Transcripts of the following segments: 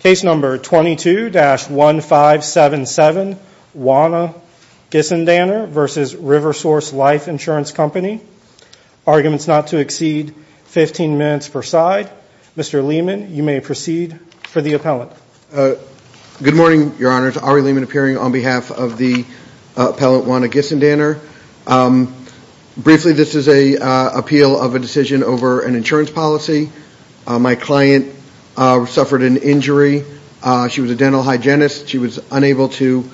Case number 22-1577, Juana Gissendanner v. RiverSource Life Insurance Company. Arguments not to exceed 15 minutes per side. Mr. Lehman, you may proceed for the appellant. Good morning, Your Honors. Ari Lehman appearing on behalf of the appellant, Juana Gissendanner. Briefly, this is an appeal of a decision over an insurance policy. My client suffered an injury. She was a dental hygienist. She was unable to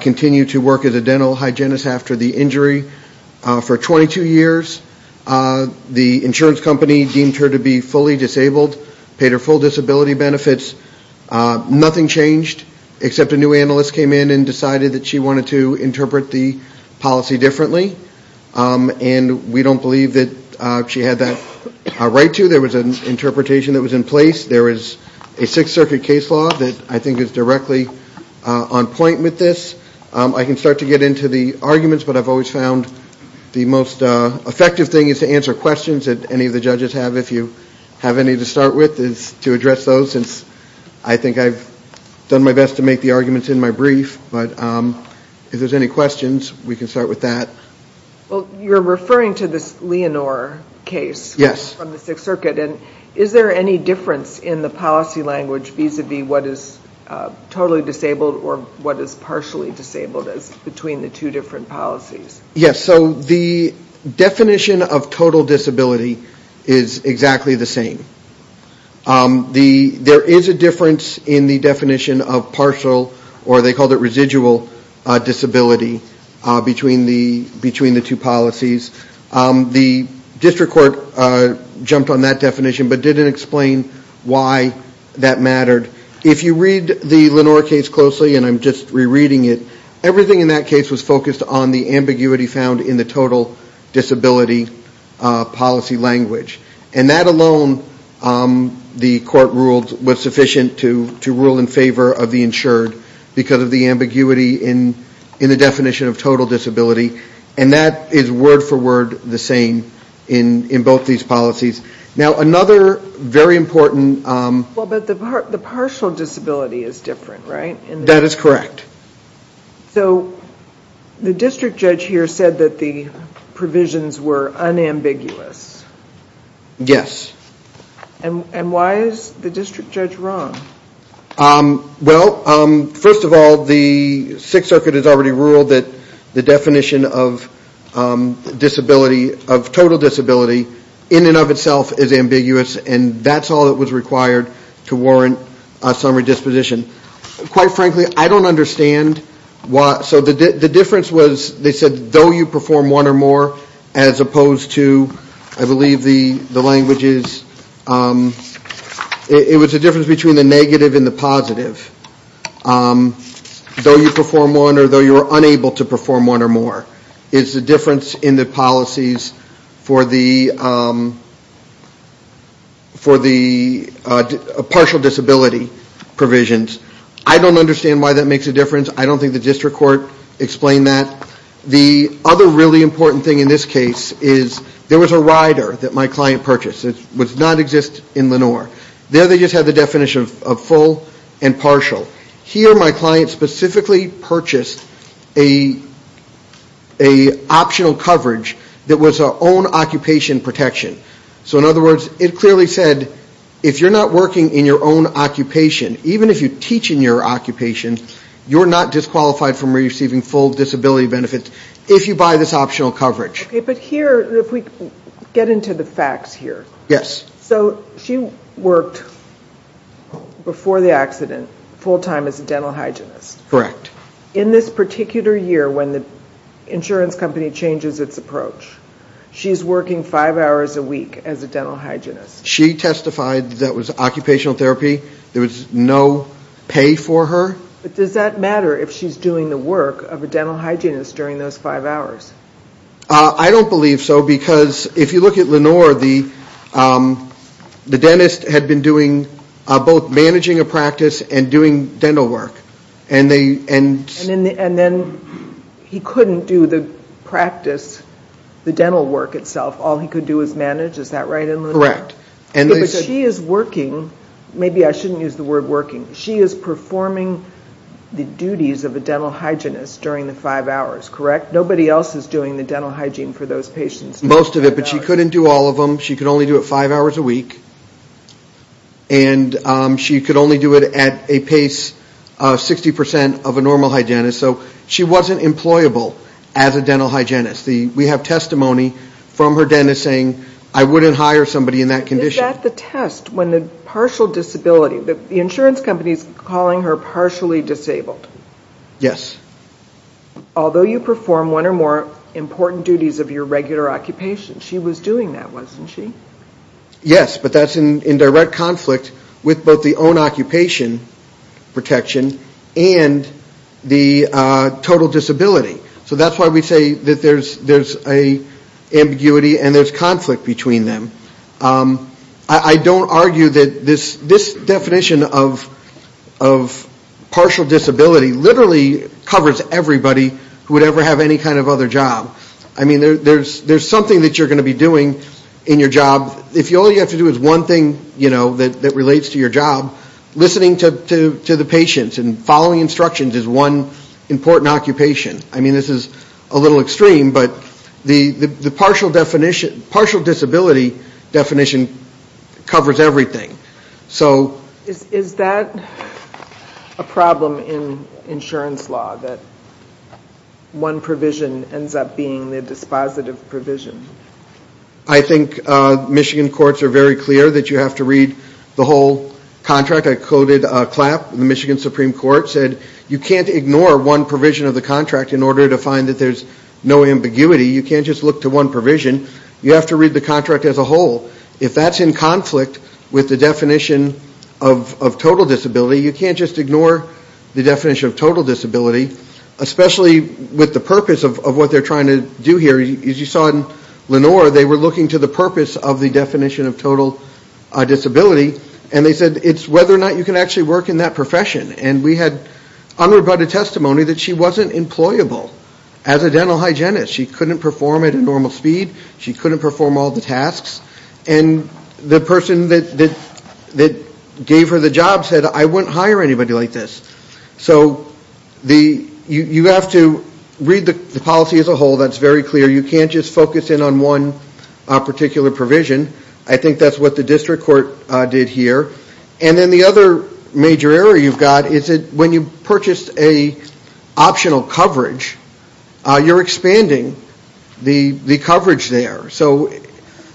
continue to work as a dental hygienist after the injury. For 22 years, the insurance company deemed her to be fully disabled, paid her full disability benefits. Nothing changed except a new analyst came in and decided that she wanted to interpret the policy differently. And we don't believe that she had that right to. There was an interpretation that was in place. There is a Sixth Circuit case law that I think is directly on point with this. I can start to get into the arguments, but I've always found the most effective thing is to answer questions that any of the judges have, if you have any to start with, is to address those, since I think I've done my best to make the arguments in my brief. But if there's any questions, we can start with that. You're referring to this Leonore case from the Sixth Circuit. Is there any difference in the policy language vis-a-vis what is totally disabled or what is partially disabled between the two different policies? Yes, so the definition of total disability is exactly the same. There is a difference in the definition of partial, or they called it residual, disability between the two policies. The district court jumped on that definition but didn't explain why that mattered. If you read the Leonore case closely, and I'm just rereading it, everything in that case was focused on the ambiguity found in the total disability policy language. And that alone, the court ruled, was sufficient to rule in favor of the insured because of the ambiguity in the definition of total disability. And that is word for word the same in both these policies. Now another very important... But the partial disability is different, right? That is correct. So the district judge here said that the provisions were unambiguous. Yes. And why is the district judge wrong? Well, first of all, the Sixth Circuit has already ruled that the definition of total disability in and of itself is ambiguous and that's all that was required to warrant a summary disposition. Quite frankly, I don't understand why... So the difference was, they said, though you perform one or more as opposed to, I believe, the languages... It was the difference between the negative and the positive. Though you perform one or though you are unable to perform one or more is the difference in the policies for the partial disability provisions. I don't understand why that makes a difference. I don't think the district court explained that. The other really important thing in this case is there was a rider that my client purchased. It does not exist in Lenore. There they just had the definition of full and partial. Here my client specifically purchased an optional coverage that was our own occupation protection. So in other words, it clearly said, if you're not working in your own occupation, even if you teach in your occupation, you're not disqualified from receiving full disability benefits if you buy this optional coverage. Okay, but here, if we get into the facts here. Yes. So she worked before the accident full time as a dental hygienist. Correct. In this particular year when the insurance company changes its approach, she's working five hours a week as a dental hygienist. She testified that was occupational therapy. There was no pay for her. But does that matter if she's doing the work of a dental hygienist during those five hours? I don't believe so because if you look at Lenore, the dentist had been doing both managing a practice and doing dental work. And then he couldn't do the practice, the dental work itself. All he could do was manage. Is that right, Lenore? Correct. But she is working. Maybe I shouldn't use the word working. She is performing the duties of a dental hygienist during the five hours, correct? But nobody else is doing the dental hygiene for those patients. Most of it, but she couldn't do all of them. She could only do it five hours a week. And she could only do it at a pace 60% of a normal hygienist. So she wasn't employable as a dental hygienist. We have testimony from her dentist saying, I wouldn't hire somebody in that condition. Is that the test when the partial disability, the insurance company is calling her partially disabled? Yes. Although you perform one or more important duties of your regular occupation, she was doing that, wasn't she? Yes, but that's in direct conflict with both the own occupation protection and the total disability. So that's why we say that there's an ambiguity and there's conflict between them. I don't argue that this definition of partial disability literally covers everybody who would ever have any kind of other job. I mean, there's something that you're going to be doing in your job. If all you have to do is one thing, you know, that relates to your job, listening to the patients and following instructions is one important occupation. I mean, this is a little extreme, but the partial disability definition covers everything. Is that a problem in insurance law, that one provision ends up being the dispositive provision? I think Michigan courts are very clear that you have to read the whole contract. I coded a clap. The Michigan Supreme Court said you can't ignore one provision of the contract in order to find that there's no ambiguity. You can't just look to one provision. You have to read the contract as a whole. If that's in conflict with the definition of total disability, you can't just ignore the definition of total disability, especially with the purpose of what they're trying to do here. As you saw in Lenore, they were looking to the purpose of the definition of total disability, and they said it's whether or not you can actually work in that profession. And we had unrebutted testimony that she wasn't employable as a dental hygienist. She couldn't perform at a normal speed. She couldn't perform all the tasks. And the person that gave her the job said, I wouldn't hire anybody like this. So you have to read the policy as a whole. That's very clear. You can't just focus in on one particular provision. I think that's what the district court did here. And then the other major error you've got is that when you purchase an optional coverage, you're expanding the coverage there. So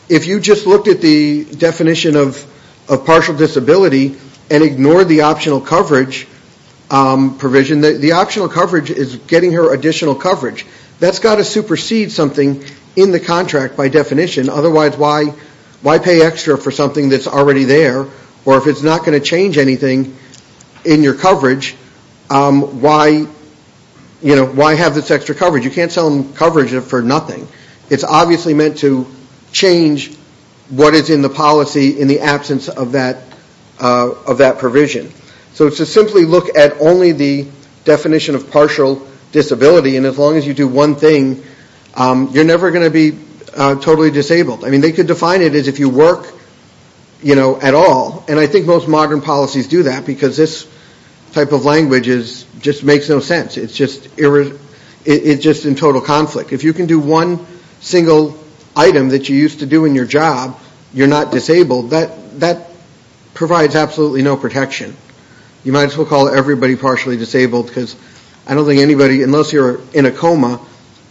if you just looked at the definition of partial disability and ignored the optional coverage provision, the optional coverage is getting her additional coverage. That's got to supersede something in the contract by definition. Otherwise, why pay extra for something that's already there? Or if it's not going to change anything in your coverage, why have this extra coverage? You can't sell them coverage for nothing. It's obviously meant to change what is in the policy in the absence of that provision. So to simply look at only the definition of partial disability, and as long as you do one thing, you're never going to be totally disabled. They could define it as if you work at all. And I think most modern policies do that because this type of language just makes no sense. It's just in total conflict. If you can do one single item that you used to do in your job, you're not disabled. That provides absolutely no protection. You might as well call everybody partially disabled because I don't think anybody, unless you're in a coma,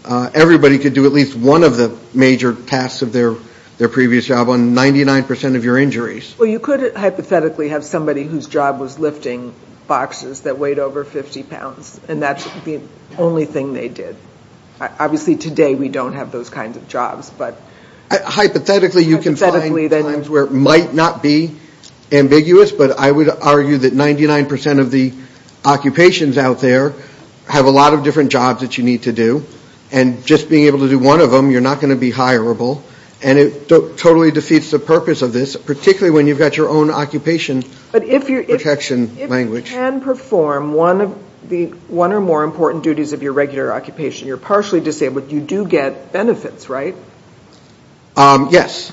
everybody could do at least one of the major tasks of their previous job on 99% of your injuries. Well, you could hypothetically have somebody whose job was lifting boxes that weighed over 50 pounds, and that's the only thing they did. Obviously, today we don't have those kinds of jobs. Hypothetically, you can find times where it might not be ambiguous, but I would argue that 99% of the occupations out there have a lot of different jobs that you need to do, and just being able to do one of them, you're not going to be hireable. And it totally defeats the purpose of this, particularly when you've got your own occupation protection language. But if you can perform one or more important duties of your regular occupation, you're partially disabled, you do get benefits, right? Yes.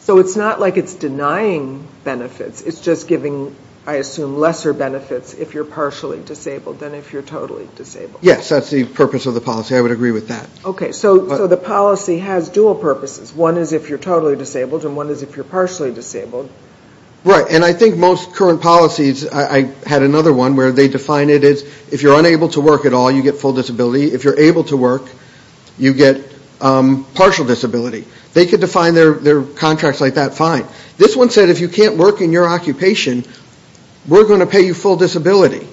So it's not like it's denying benefits. It's just giving, I assume, lesser benefits if you're partially disabled than if you're totally disabled. Yes, that's the purpose of the policy. I would agree with that. Okay, so the policy has dual purposes. One is if you're totally disabled, and one is if you're partially disabled. Right, and I think most current policies, I had another one where they define it as if you're unable to work at all, you get full disability. If you're able to work, you get partial disability. They could define their contracts like that fine. This one said if you can't work in your occupation, we're going to pay you full disability.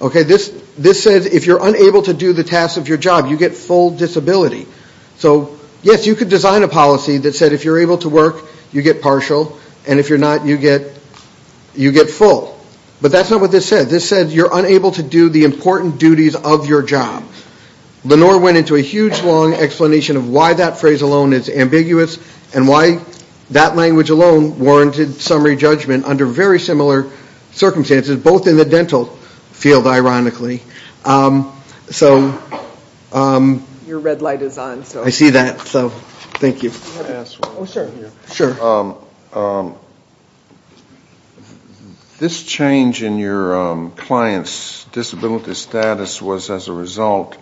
This said if you're unable to do the tasks of your job, you get full disability. So, yes, you could design a policy that said if you're able to work, you get partial, and if you're not, you get full. But that's not what this said. This said you're unable to do the important duties of your job. Lenore went into a huge long explanation of why that phrase alone is ambiguous and why that language alone warranted summary judgment under very similar circumstances, both in the dental field, ironically. So... Your red light is on. I see that. Thank you. Sure. This change in your client's disability status was as a result,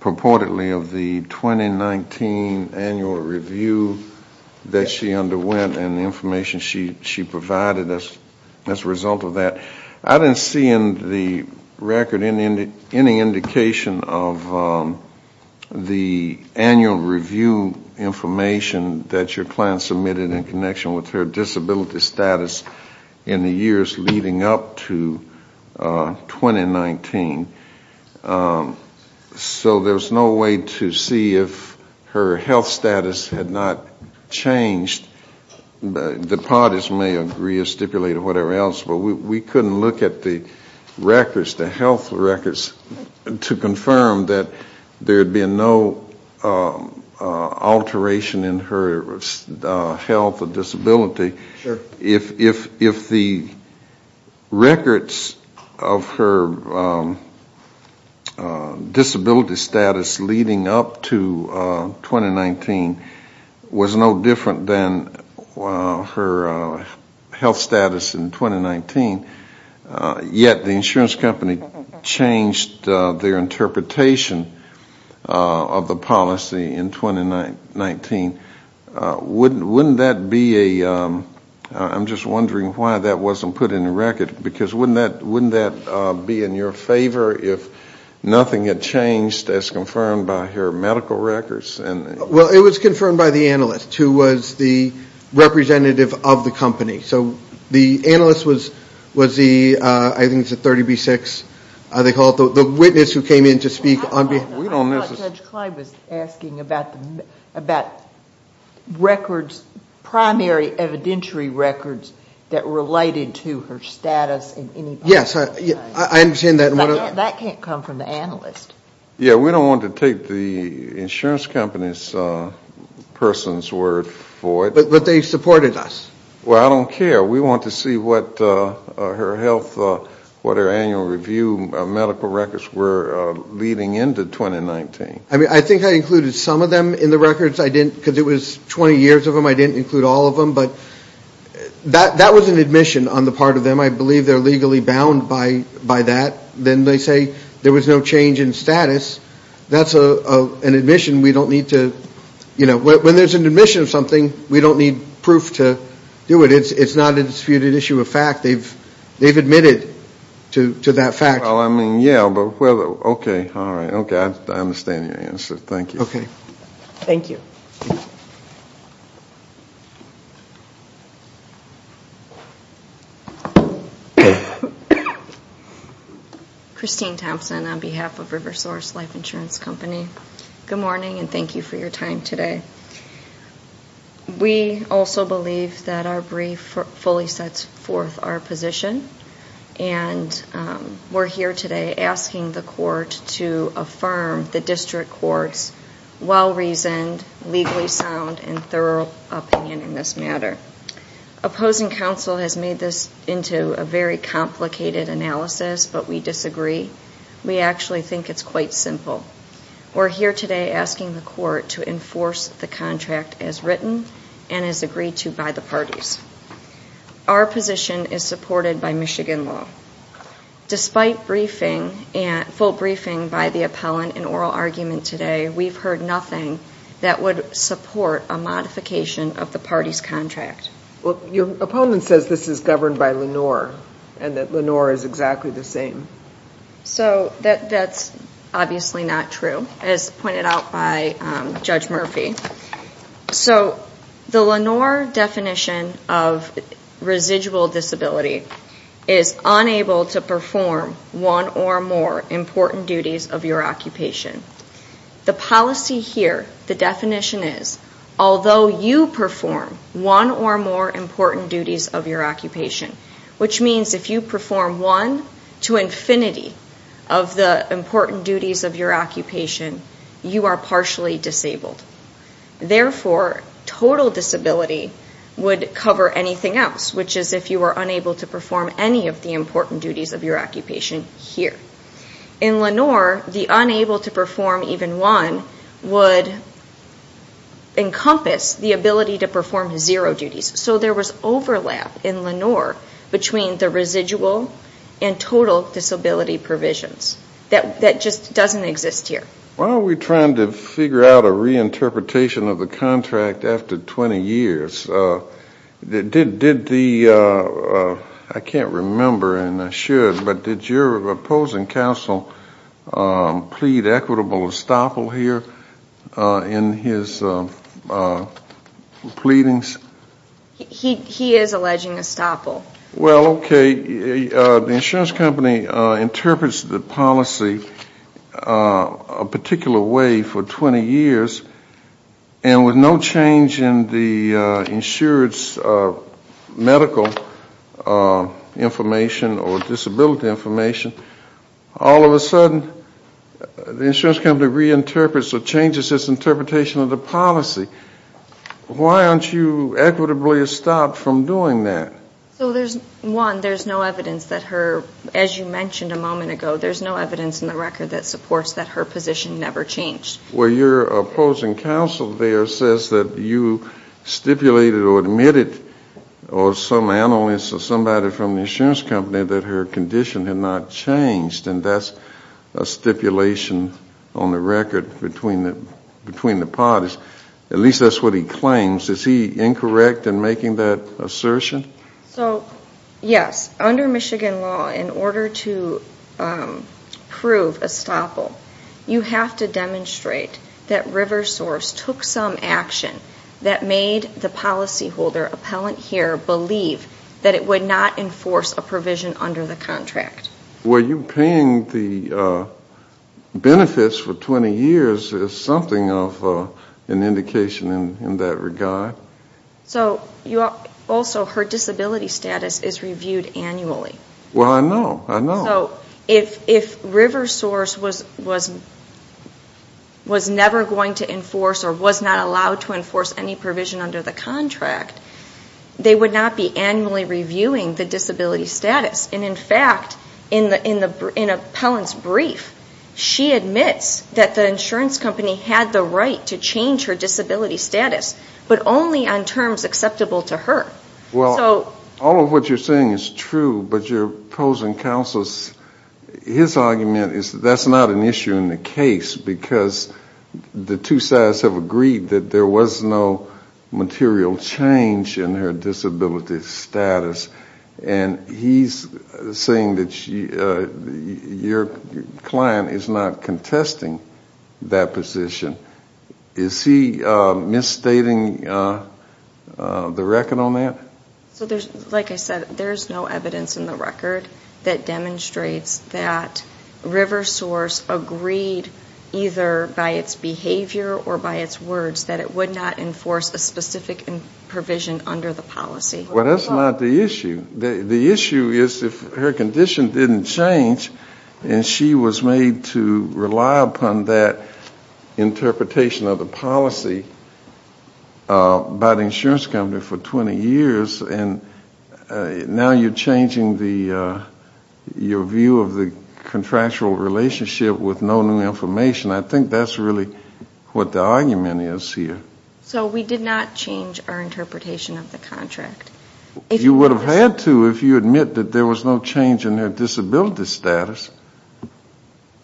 purportedly, of the 2019 annual review that she underwent and the information she provided as a result of that. I didn't see in the record any indication of the annual review information that your client submitted in connection with her disability status in the years leading up to 2019. So there's no way to see if her health status had not changed. The parties may agree or stipulate or whatever else, but we couldn't look at the records, the health records, to confirm that there had been no alteration in her health or disability. If the records of her disability status leading up to 2019 was no different than her health status in 2019, yet the insurance company changed their interpretation of the policy in 2019, wouldn't that be a... I'm just wondering why that wasn't put in the record, because wouldn't that be in your favor if nothing had changed as confirmed by her medical records? It was confirmed by the analyst who was the representative of the company. The analyst was the witness who came in to speak on behalf... I thought Judge Clyde was asking about primary evidentiary records that related to her status. That can't come from the analyst. Yeah, we don't want to take the insurance company's person's word for it. But they supported us. Well, I don't care. We want to see what her health, what her annual review medical records were leading into 2019. I think I included some of them in the records, because it was 20 years of them. I didn't include all of them. But that was an admission on the part of them. I believe they're legally bound by that. Then they say there was no change in status. That's an admission we don't need to... When there's an admission of something, we don't need proof to do it. It's not a disputed issue of fact. They've admitted to that fact. Okay. I understand your answer. Thank you. Christine Thompson on behalf of River Source Life Insurance Company. Good morning and thank you for your time today. We also believe that our brief fully sets forth our position. And we're here today asking the court to affirm the district court's well-reasoned, legally sound, and thorough opinion in this matter. Opposing counsel has made this into a very complicated analysis, but we disagree. We actually think it's quite simple. We're here today asking the court to enforce the contract as written and as agreed to by the parties. Our position is supported by Michigan law. Despite full briefing by the appellant in oral argument today, we've heard nothing that would support a modification of the party's contract. Your opponent says this is governed by Lenore and that Lenore is exactly the same. That's obviously not true, as pointed out by Judge Murphy. The Lenore definition of residual disability is unable to perform one or more important duties of your occupation. The policy here, the definition is, although you perform one or more important duties of your occupation, which means if you perform one to infinity of the important duties of your occupation, you are unable to perform any of the important duties of your occupation here. In Lenore, the unable to perform even one would encompass the ability to perform zero duties. So there was overlap in Lenore between the residual and total disability provisions. That just doesn't exist here. Why are we trying to figure out a reinterpretation of the contract after 20 years? Did the, I can't remember and I should, but did your opposing counsel plead equitable estoppel here in his pleadings? He is alleging estoppel. Well, okay, the insurance company interprets the policy a particular way for 20 years, and with no change in the insurance medical information or disability information, all of a sudden the insurance company reinterprets or changes its interpretation of the policy. Why aren't you equitably estopped from doing that? So there's one, there's no evidence that her, as you mentioned a moment ago, there's no evidence in the record that supports that her position never changed. Well, your opposing counsel there says that you stipulated or admitted, or some analyst or somebody from the insurance company, that her condition had not changed, and that's a stipulation on the record between the parties. At least that's what he claims. Is he incorrect in making that assertion? So, yes. Under Michigan law, in order to prove estoppel, you have to demonstrate that River Source took some action that made the policyholder appellant here believe that it would not enforce a provision under the contract. Were you paying the benefits for 20 years as something of an indication in that regard? Also, her disability status is reviewed annually. Well, I know. I know. So if River Source was never going to enforce or was not allowed to enforce any provision under the contract, they would not be annually reviewing the disability status, but only on terms acceptable to her. All of what you're saying is true, but your opposing counsel, his argument is that's not an issue in the case, because the two sides have agreed that there was no material change in her disability status, and he's saying that your client is not contesting that position. Is he misstating the record on that? So, like I said, there's no evidence in the record that demonstrates that River Source agreed either by its behavior or by its words that it would not enforce a specific provision under the policy. Well, that's not the issue. The issue is if her condition didn't change and she was made to rely upon that interpretation of the policy by the insurance company for 20 years, and now you're changing your view of the contractual relationship with no new information. I think that's really what the argument is here. So we did not change our interpretation of the contract. You would have had to if you admit that there was no change in her disability status.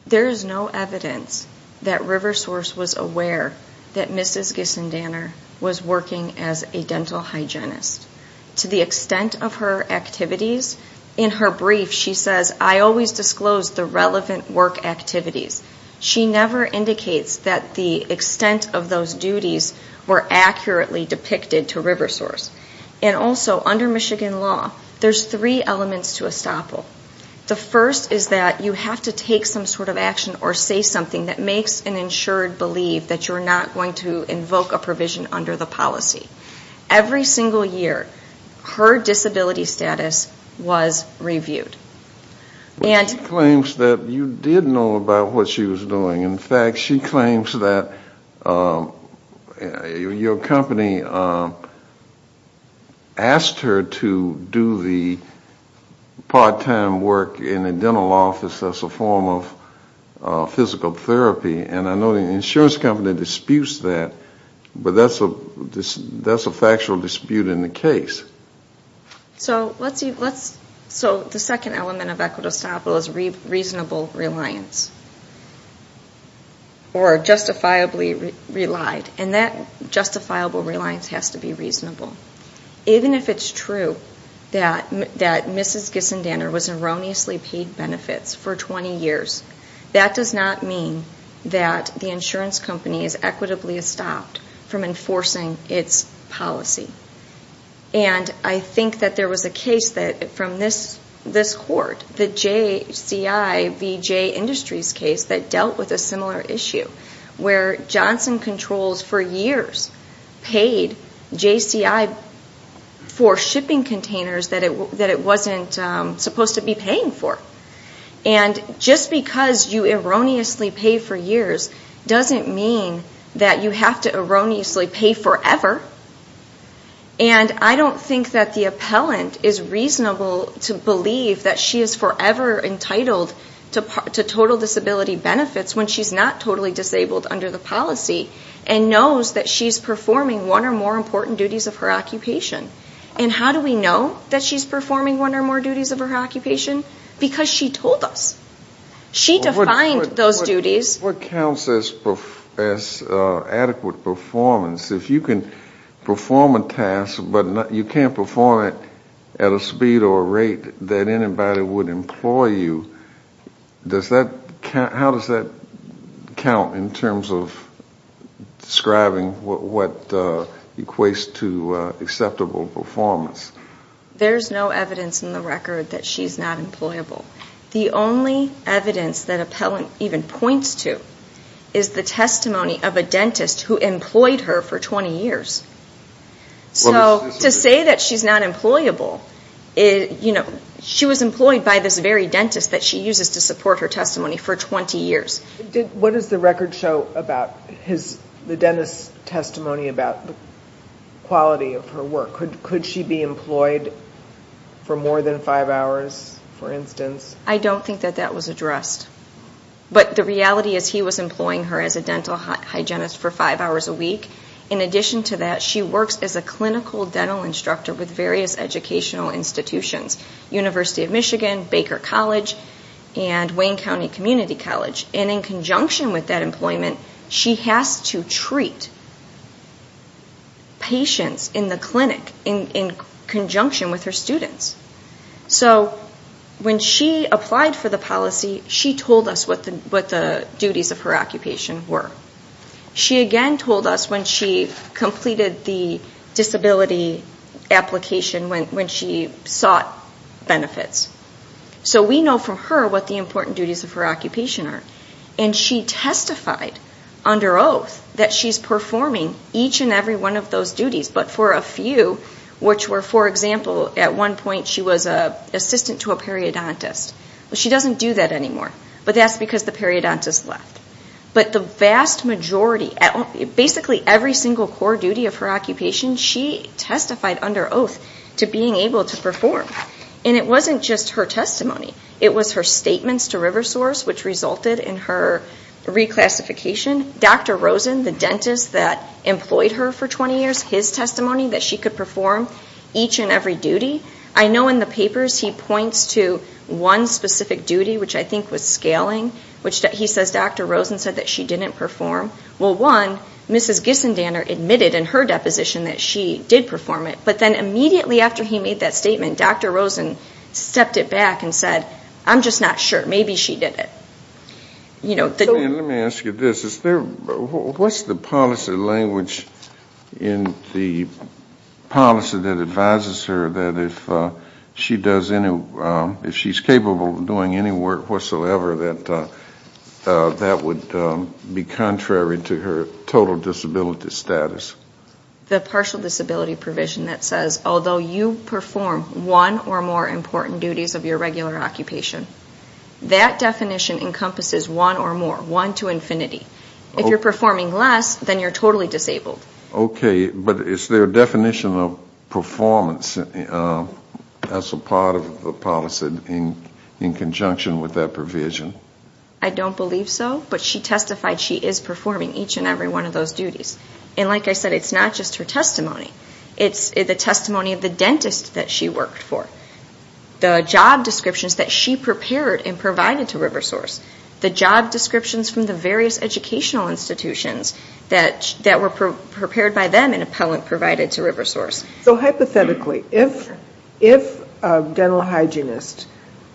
There is no evidence that River Source was aware that Mrs. Gissendaner was working as a dental hygienist. To the extent of her activities, in her brief she says, I always disclose the relevant work activities. She never indicates that the extent of those duties were accurately depicted to River Source. And also, under Michigan law, there's three elements to estoppel. The first is that you have to take some sort of action or say something that makes an insured believe that you're not going to invoke a provision under the policy. Every single year, her disability status was reviewed. And... She claims that you did know about what she was doing. In fact, she claims that your company asked her to do the part-time work in a dental office as a form of physical therapy. And I know the insurance company disputes that. But that's a factual dispute in the case. So the second element of equitable estoppel is reasonable reliance. Or justifiably relied. And that justifiable reliance has to be reasonable. Even if it's true that Mrs. Gissendaner was erroneously paid benefits for 20 years, that does not mean that the insurance company is equitably estopped. From enforcing its policy. And I think that there was a case from this court, the JCIVJ Industries case that dealt with a similar issue, where Johnson Controls for years paid JCI for shipping containers that it wasn't supposed to be paying for. And just because you erroneously pay for years doesn't mean that you have to erroneously pay forever. And I don't think that the appellant is reasonable to believe that she is forever entitled to total disability benefits when she's not totally disabled under the policy and knows that she's performing one or more important duties of her occupation. And how do we know that she's performing one or more duties of her occupation? Because she told us. She defined those duties. What counts as adequate performance, if you can perform a task but you can't perform it at a speed or rate that anybody would employ you, how does that count in terms of describing what equates to acceptable performance? There's no evidence in the record that she's not employable. The only evidence that appellant even points to is the testimony of a dentist who employed her for 20 years. So to say that she's not employable, you know, she was employed by this very dentist that she uses to support her testimony for 20 years. What does the record show about the dentist's testimony about the quality of her work? Could she be employed for more than five hours, for instance? I don't think that that was addressed. But the reality is he was employing her as a dental hygienist for five hours a week. In addition to that, she works as a clinical dental instructor with various educational institutions. University of Michigan, Baker College, and Wayne County Community College. And in conjunction with that employment, she has to treat patients in the clinic in conjunction with her students. So when she applied for the policy, she told us what the duties of her occupation were. She again told us when she completed the disability application, when she sought benefits. So we know from her what the important duties of her occupation are. And she testified under oath that she's performing each and every one of those duties. But for a few, which were, for example, at one point she was an assistant to a periodontist. She doesn't do that anymore. But that's because the periodontist left. But the vast majority, basically every single core duty of her occupation, she testified under oath to being able to perform. And it wasn't just her testimony. It was her statements to River Source, which resulted in her reclassification. Dr. Rosen, the dentist that employed her for 20 years, his testimony that she could perform each and every duty. I know in the papers he points to one specific duty, which I think was scaling, which he says Dr. Rosen said that she didn't perform. Well, one, Mrs. Gissendaner admitted in her deposition that she did perform it. But then immediately after he made that statement, Dr. Rosen stepped it back and said, I'm just not sure. Maybe she did it. Let me ask you this. What's the policy language in the policy that advises her that if she does any, if she's capable of doing any work whatsoever, that that would be contrary to her total disability status? The partial disability provision that says although you perform one or more important duties of your regular occupation, that definition encompasses one or more, one to infinity. If you're performing less, then you're totally disabled. Okay, but is there a definition of performance as a part of the policy in conjunction with that provision? I don't believe so, but she testified she is performing each and every one of those duties. And like I said, it's not just her testimony. It's the testimony of the dentist that she worked for. The job descriptions that she prepared and provided to RiverSource. The job descriptions from the various educational institutions that were prepared by them and appellant provided to RiverSource. So hypothetically, if a dental hygienist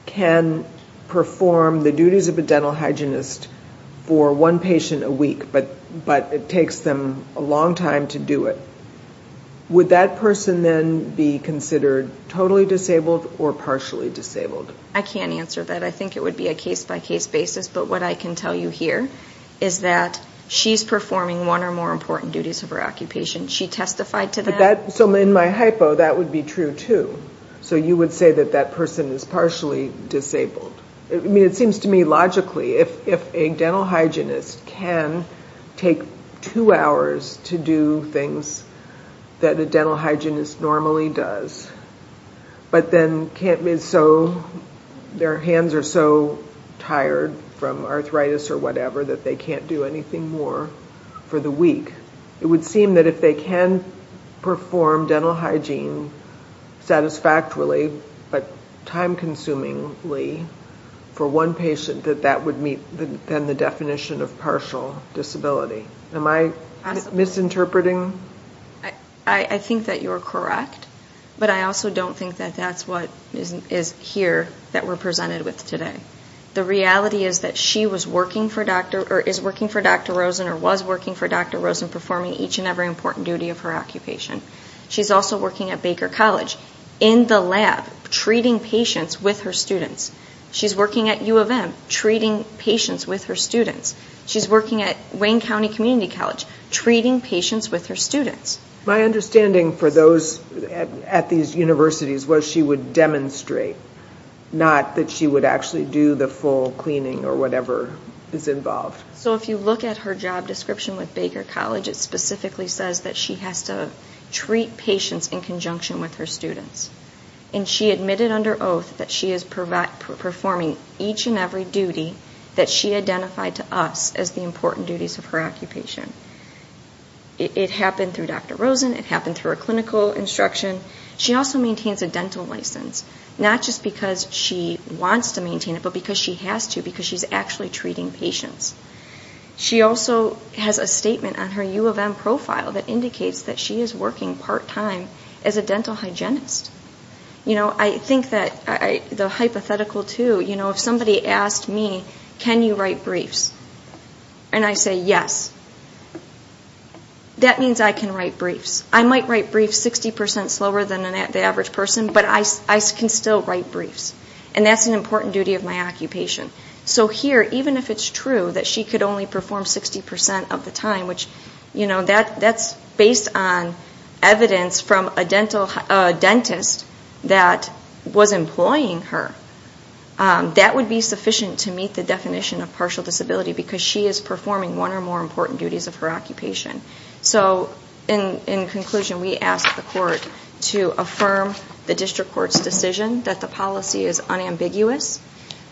can perform the duties of a dental hygienist for one patient a week, but it takes them a long time to do it, would that person then be considered totally disabled or partially disabled? I can't answer that. I think it would be a case-by-case basis. But what I can tell you here is that she's performing one or more important duties of her occupation. She testified to that. So in my hypo, that would be true, too. So you would say that that person is partially disabled. I mean, it seems to me logically, if a dental hygienist can take two hours to do things that a dental hygienist normally does, but then their hands are so tired from arthritis or whatever that they can't do anything more for the week, it would seem that if they can perform dental hygiene satisfactorily but time-consumingly for one patient, that that would meet then the definition of partial disability. Am I misinterpreting? I think that you're correct, but I also don't think that that's what is here that we're presented with today. The reality is that she is working for Dr. Rosen or was working for Dr. Rosen performing each and every important duty of her occupation. She's also working at Baker College in the lab treating patients with her students. She's working at U of M treating patients with her students. She's working at Wayne County Community College treating patients with her students. My understanding for those at these universities was she would demonstrate, not that she would actually do the full cleaning or whatever is involved. So if you look at her job description with Baker College, it specifically says that she has to treat patients in conjunction with her students. And she admitted under oath that she is performing each and every duty that she identified to us as the important duties of her occupation. It happened through Dr. Rosen. It happened through her clinical instruction. She also maintains a dental license, not just because she wants to maintain it, but because she has to, because she's actually treating patients. She also has a statement on her U of M profile that indicates that she is working part-time as a dental hygienist. You know, I think that the hypothetical too, you know, if somebody asked me, can you write briefs? And I say, yes. That means I can write briefs. I might write briefs 60% slower than the average person, but I can still write briefs. And that's an important duty of my occupation. So here, even if it's true that she could only perform 60% of the time, which, you know, that's based on evidence from a dentist that was employing her. That would be sufficient to meet the definition of partial disability, because she is performing one or more important duties of her occupation. So in conclusion, we ask the court to affirm the district court's decision that the policy is unambiguous,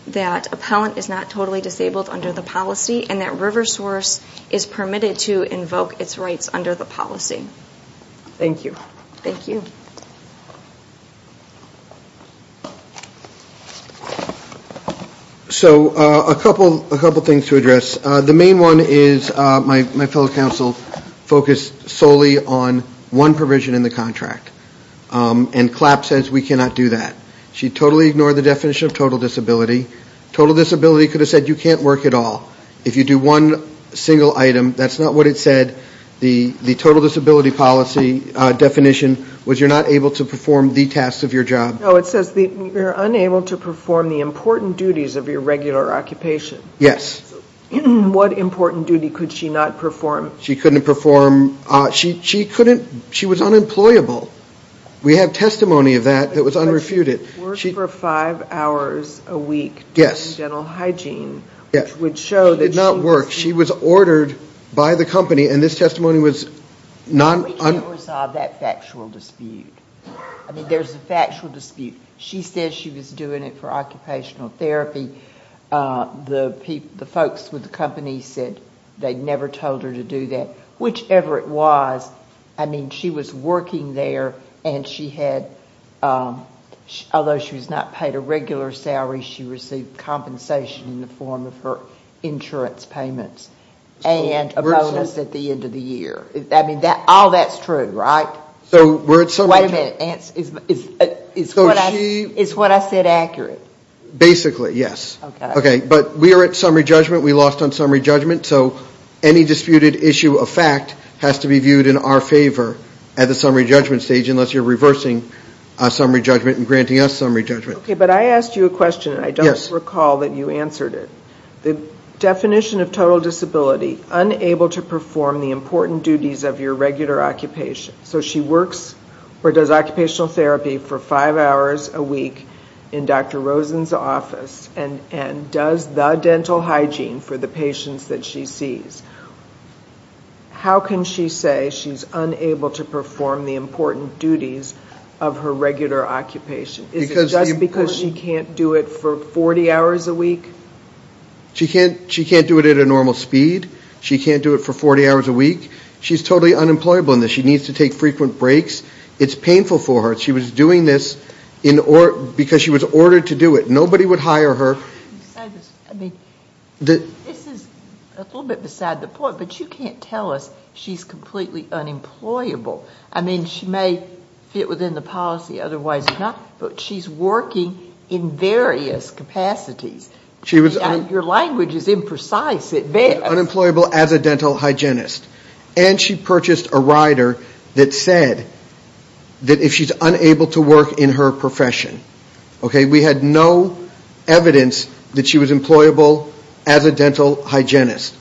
that appellant is not totally disabled under the policy, and that RiverSource is permitted to invoke its rights under the policy. Thank you. So a couple things to address. The main one is my fellow counsel focused solely on one provision in the contract, and CLAP says we cannot do that. She totally ignored the definition of total disability. Total disability could have said you can't work at all. If you do one single item, that's not what it said. The total disability policy definition was you're not able to perform the tasks of your job. No, it says you're unable to perform the important duties of your regular occupation. Yes. What important duty could she not perform? She was unemployable. We have testimony of that that was unrefuted. She worked for five hours a week doing dental hygiene, which would show that she was disabled. She did not work. She was ordered by the company, and this testimony was non- We can't resolve that factual dispute. I mean, there's a factual dispute. She said she was doing it for occupational therapy. The folks with the company said they never told her to do that, whichever it was. I mean, she was working there, and she had, although she was not paid a regular salary, she received compensation in the form of her insurance payments and a bonus at the end of the year. I mean, all that's true, right? Wait a minute. Is what I said accurate? Basically, yes. Okay, but we are at summary judgment. We lost on summary judgment, so any disputed issue of fact has to be viewed in our favor at the summary judgment stage unless you're reversing summary judgment and granting us summary judgment. Okay, but I asked you a question, and I don't recall that you answered it. The definition of total disability, unable to perform the important duties of your regular occupation. So she works or does occupational therapy for five hours a week in Dr. Rosen's office and does the dental hygiene for the patients that she sees. How can she say she's unable to perform the important duties of her regular occupation? Is it just because she can't do it for 40 hours a week? She can't do it at a normal speed. She can't do it for 40 hours a week. She's totally unemployable in this. She needs to take frequent breaks. It's painful for her. She was doing this because she was ordered to do it. Nobody would hire her. I mean, this is a little bit beside the point, but you can't tell us she's completely unemployable. I mean, she may fit within the policy, otherwise not, but she's working in various capacities. Your language is imprecise at best. Unemployable as a dental hygienist. And she purchased a rider that said that if she's unable to work in her profession. We had no evidence that she was employable as a dental hygienist.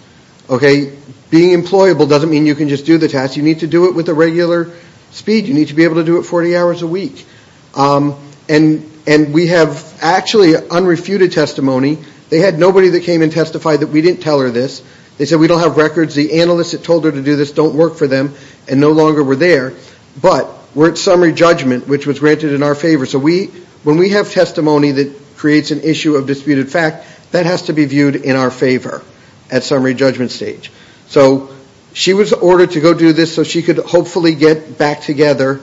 Being employable doesn't mean you can just do the task. You need to do it with a regular speed. You need to be able to do it 40 hours a week. And we have actually unrefuted testimony. They had nobody that came and testified that we didn't tell her this. They said we don't have records. The analysts that told her to do this don't work for them and no longer were there. But we're at summary judgment, which was granted in our favor. So when we have testimony that creates an issue of disputed fact, that has to be viewed in our favor at summary judgment stage. So she was ordered to go do this so she could hopefully get back together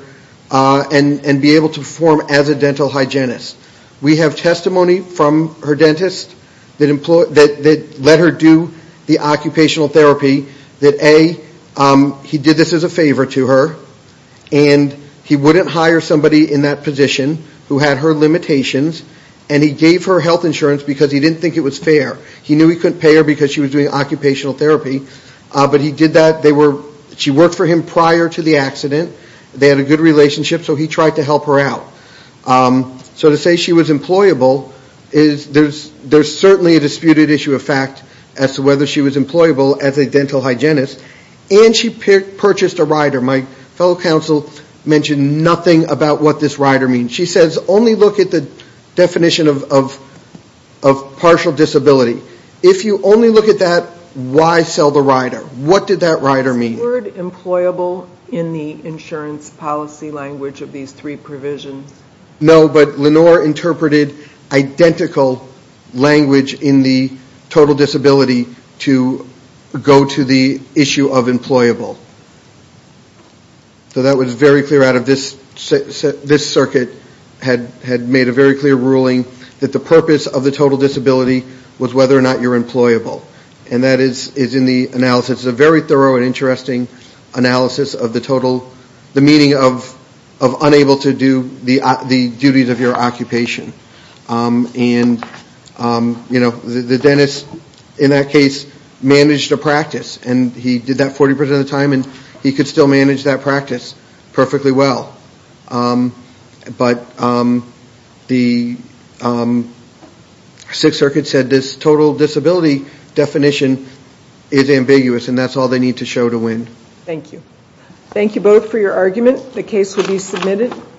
and be able to perform as a dental hygienist. We have testimony from her dentist that let her do the occupational therapy. That A, he did this as a favor to her. And he wouldn't hire somebody in that position who had her limitations. And he gave her health insurance because he didn't think it was fair. He knew he couldn't pay her because she was doing occupational therapy. But he did that. She worked for him prior to the accident. They had a good relationship so he tried to help her out. So to say she was employable, there's certainly a disputed issue of fact as to whether she was employable as a dental hygienist. And she purchased a rider. My fellow counsel mentioned nothing about what this rider means. She says only look at the definition of partial disability. If you only look at that, why sell the rider? What did that rider mean? No, but Lenore interpreted identical language in the total disability to go to the issue of employable. So that was very clear out of this circuit had made a very clear ruling that the purpose of the total disability was whether or not you're employable. And that is in the analysis, a very thorough and interesting analysis of the total, the meaning of unable to do the duties of your occupation. And the dentist in that case managed a practice. And he did that 40% of the time and he could still manage that practice perfectly well. But the Sixth Circuit said this total disability definition is ambiguous and that's all they need to show to win.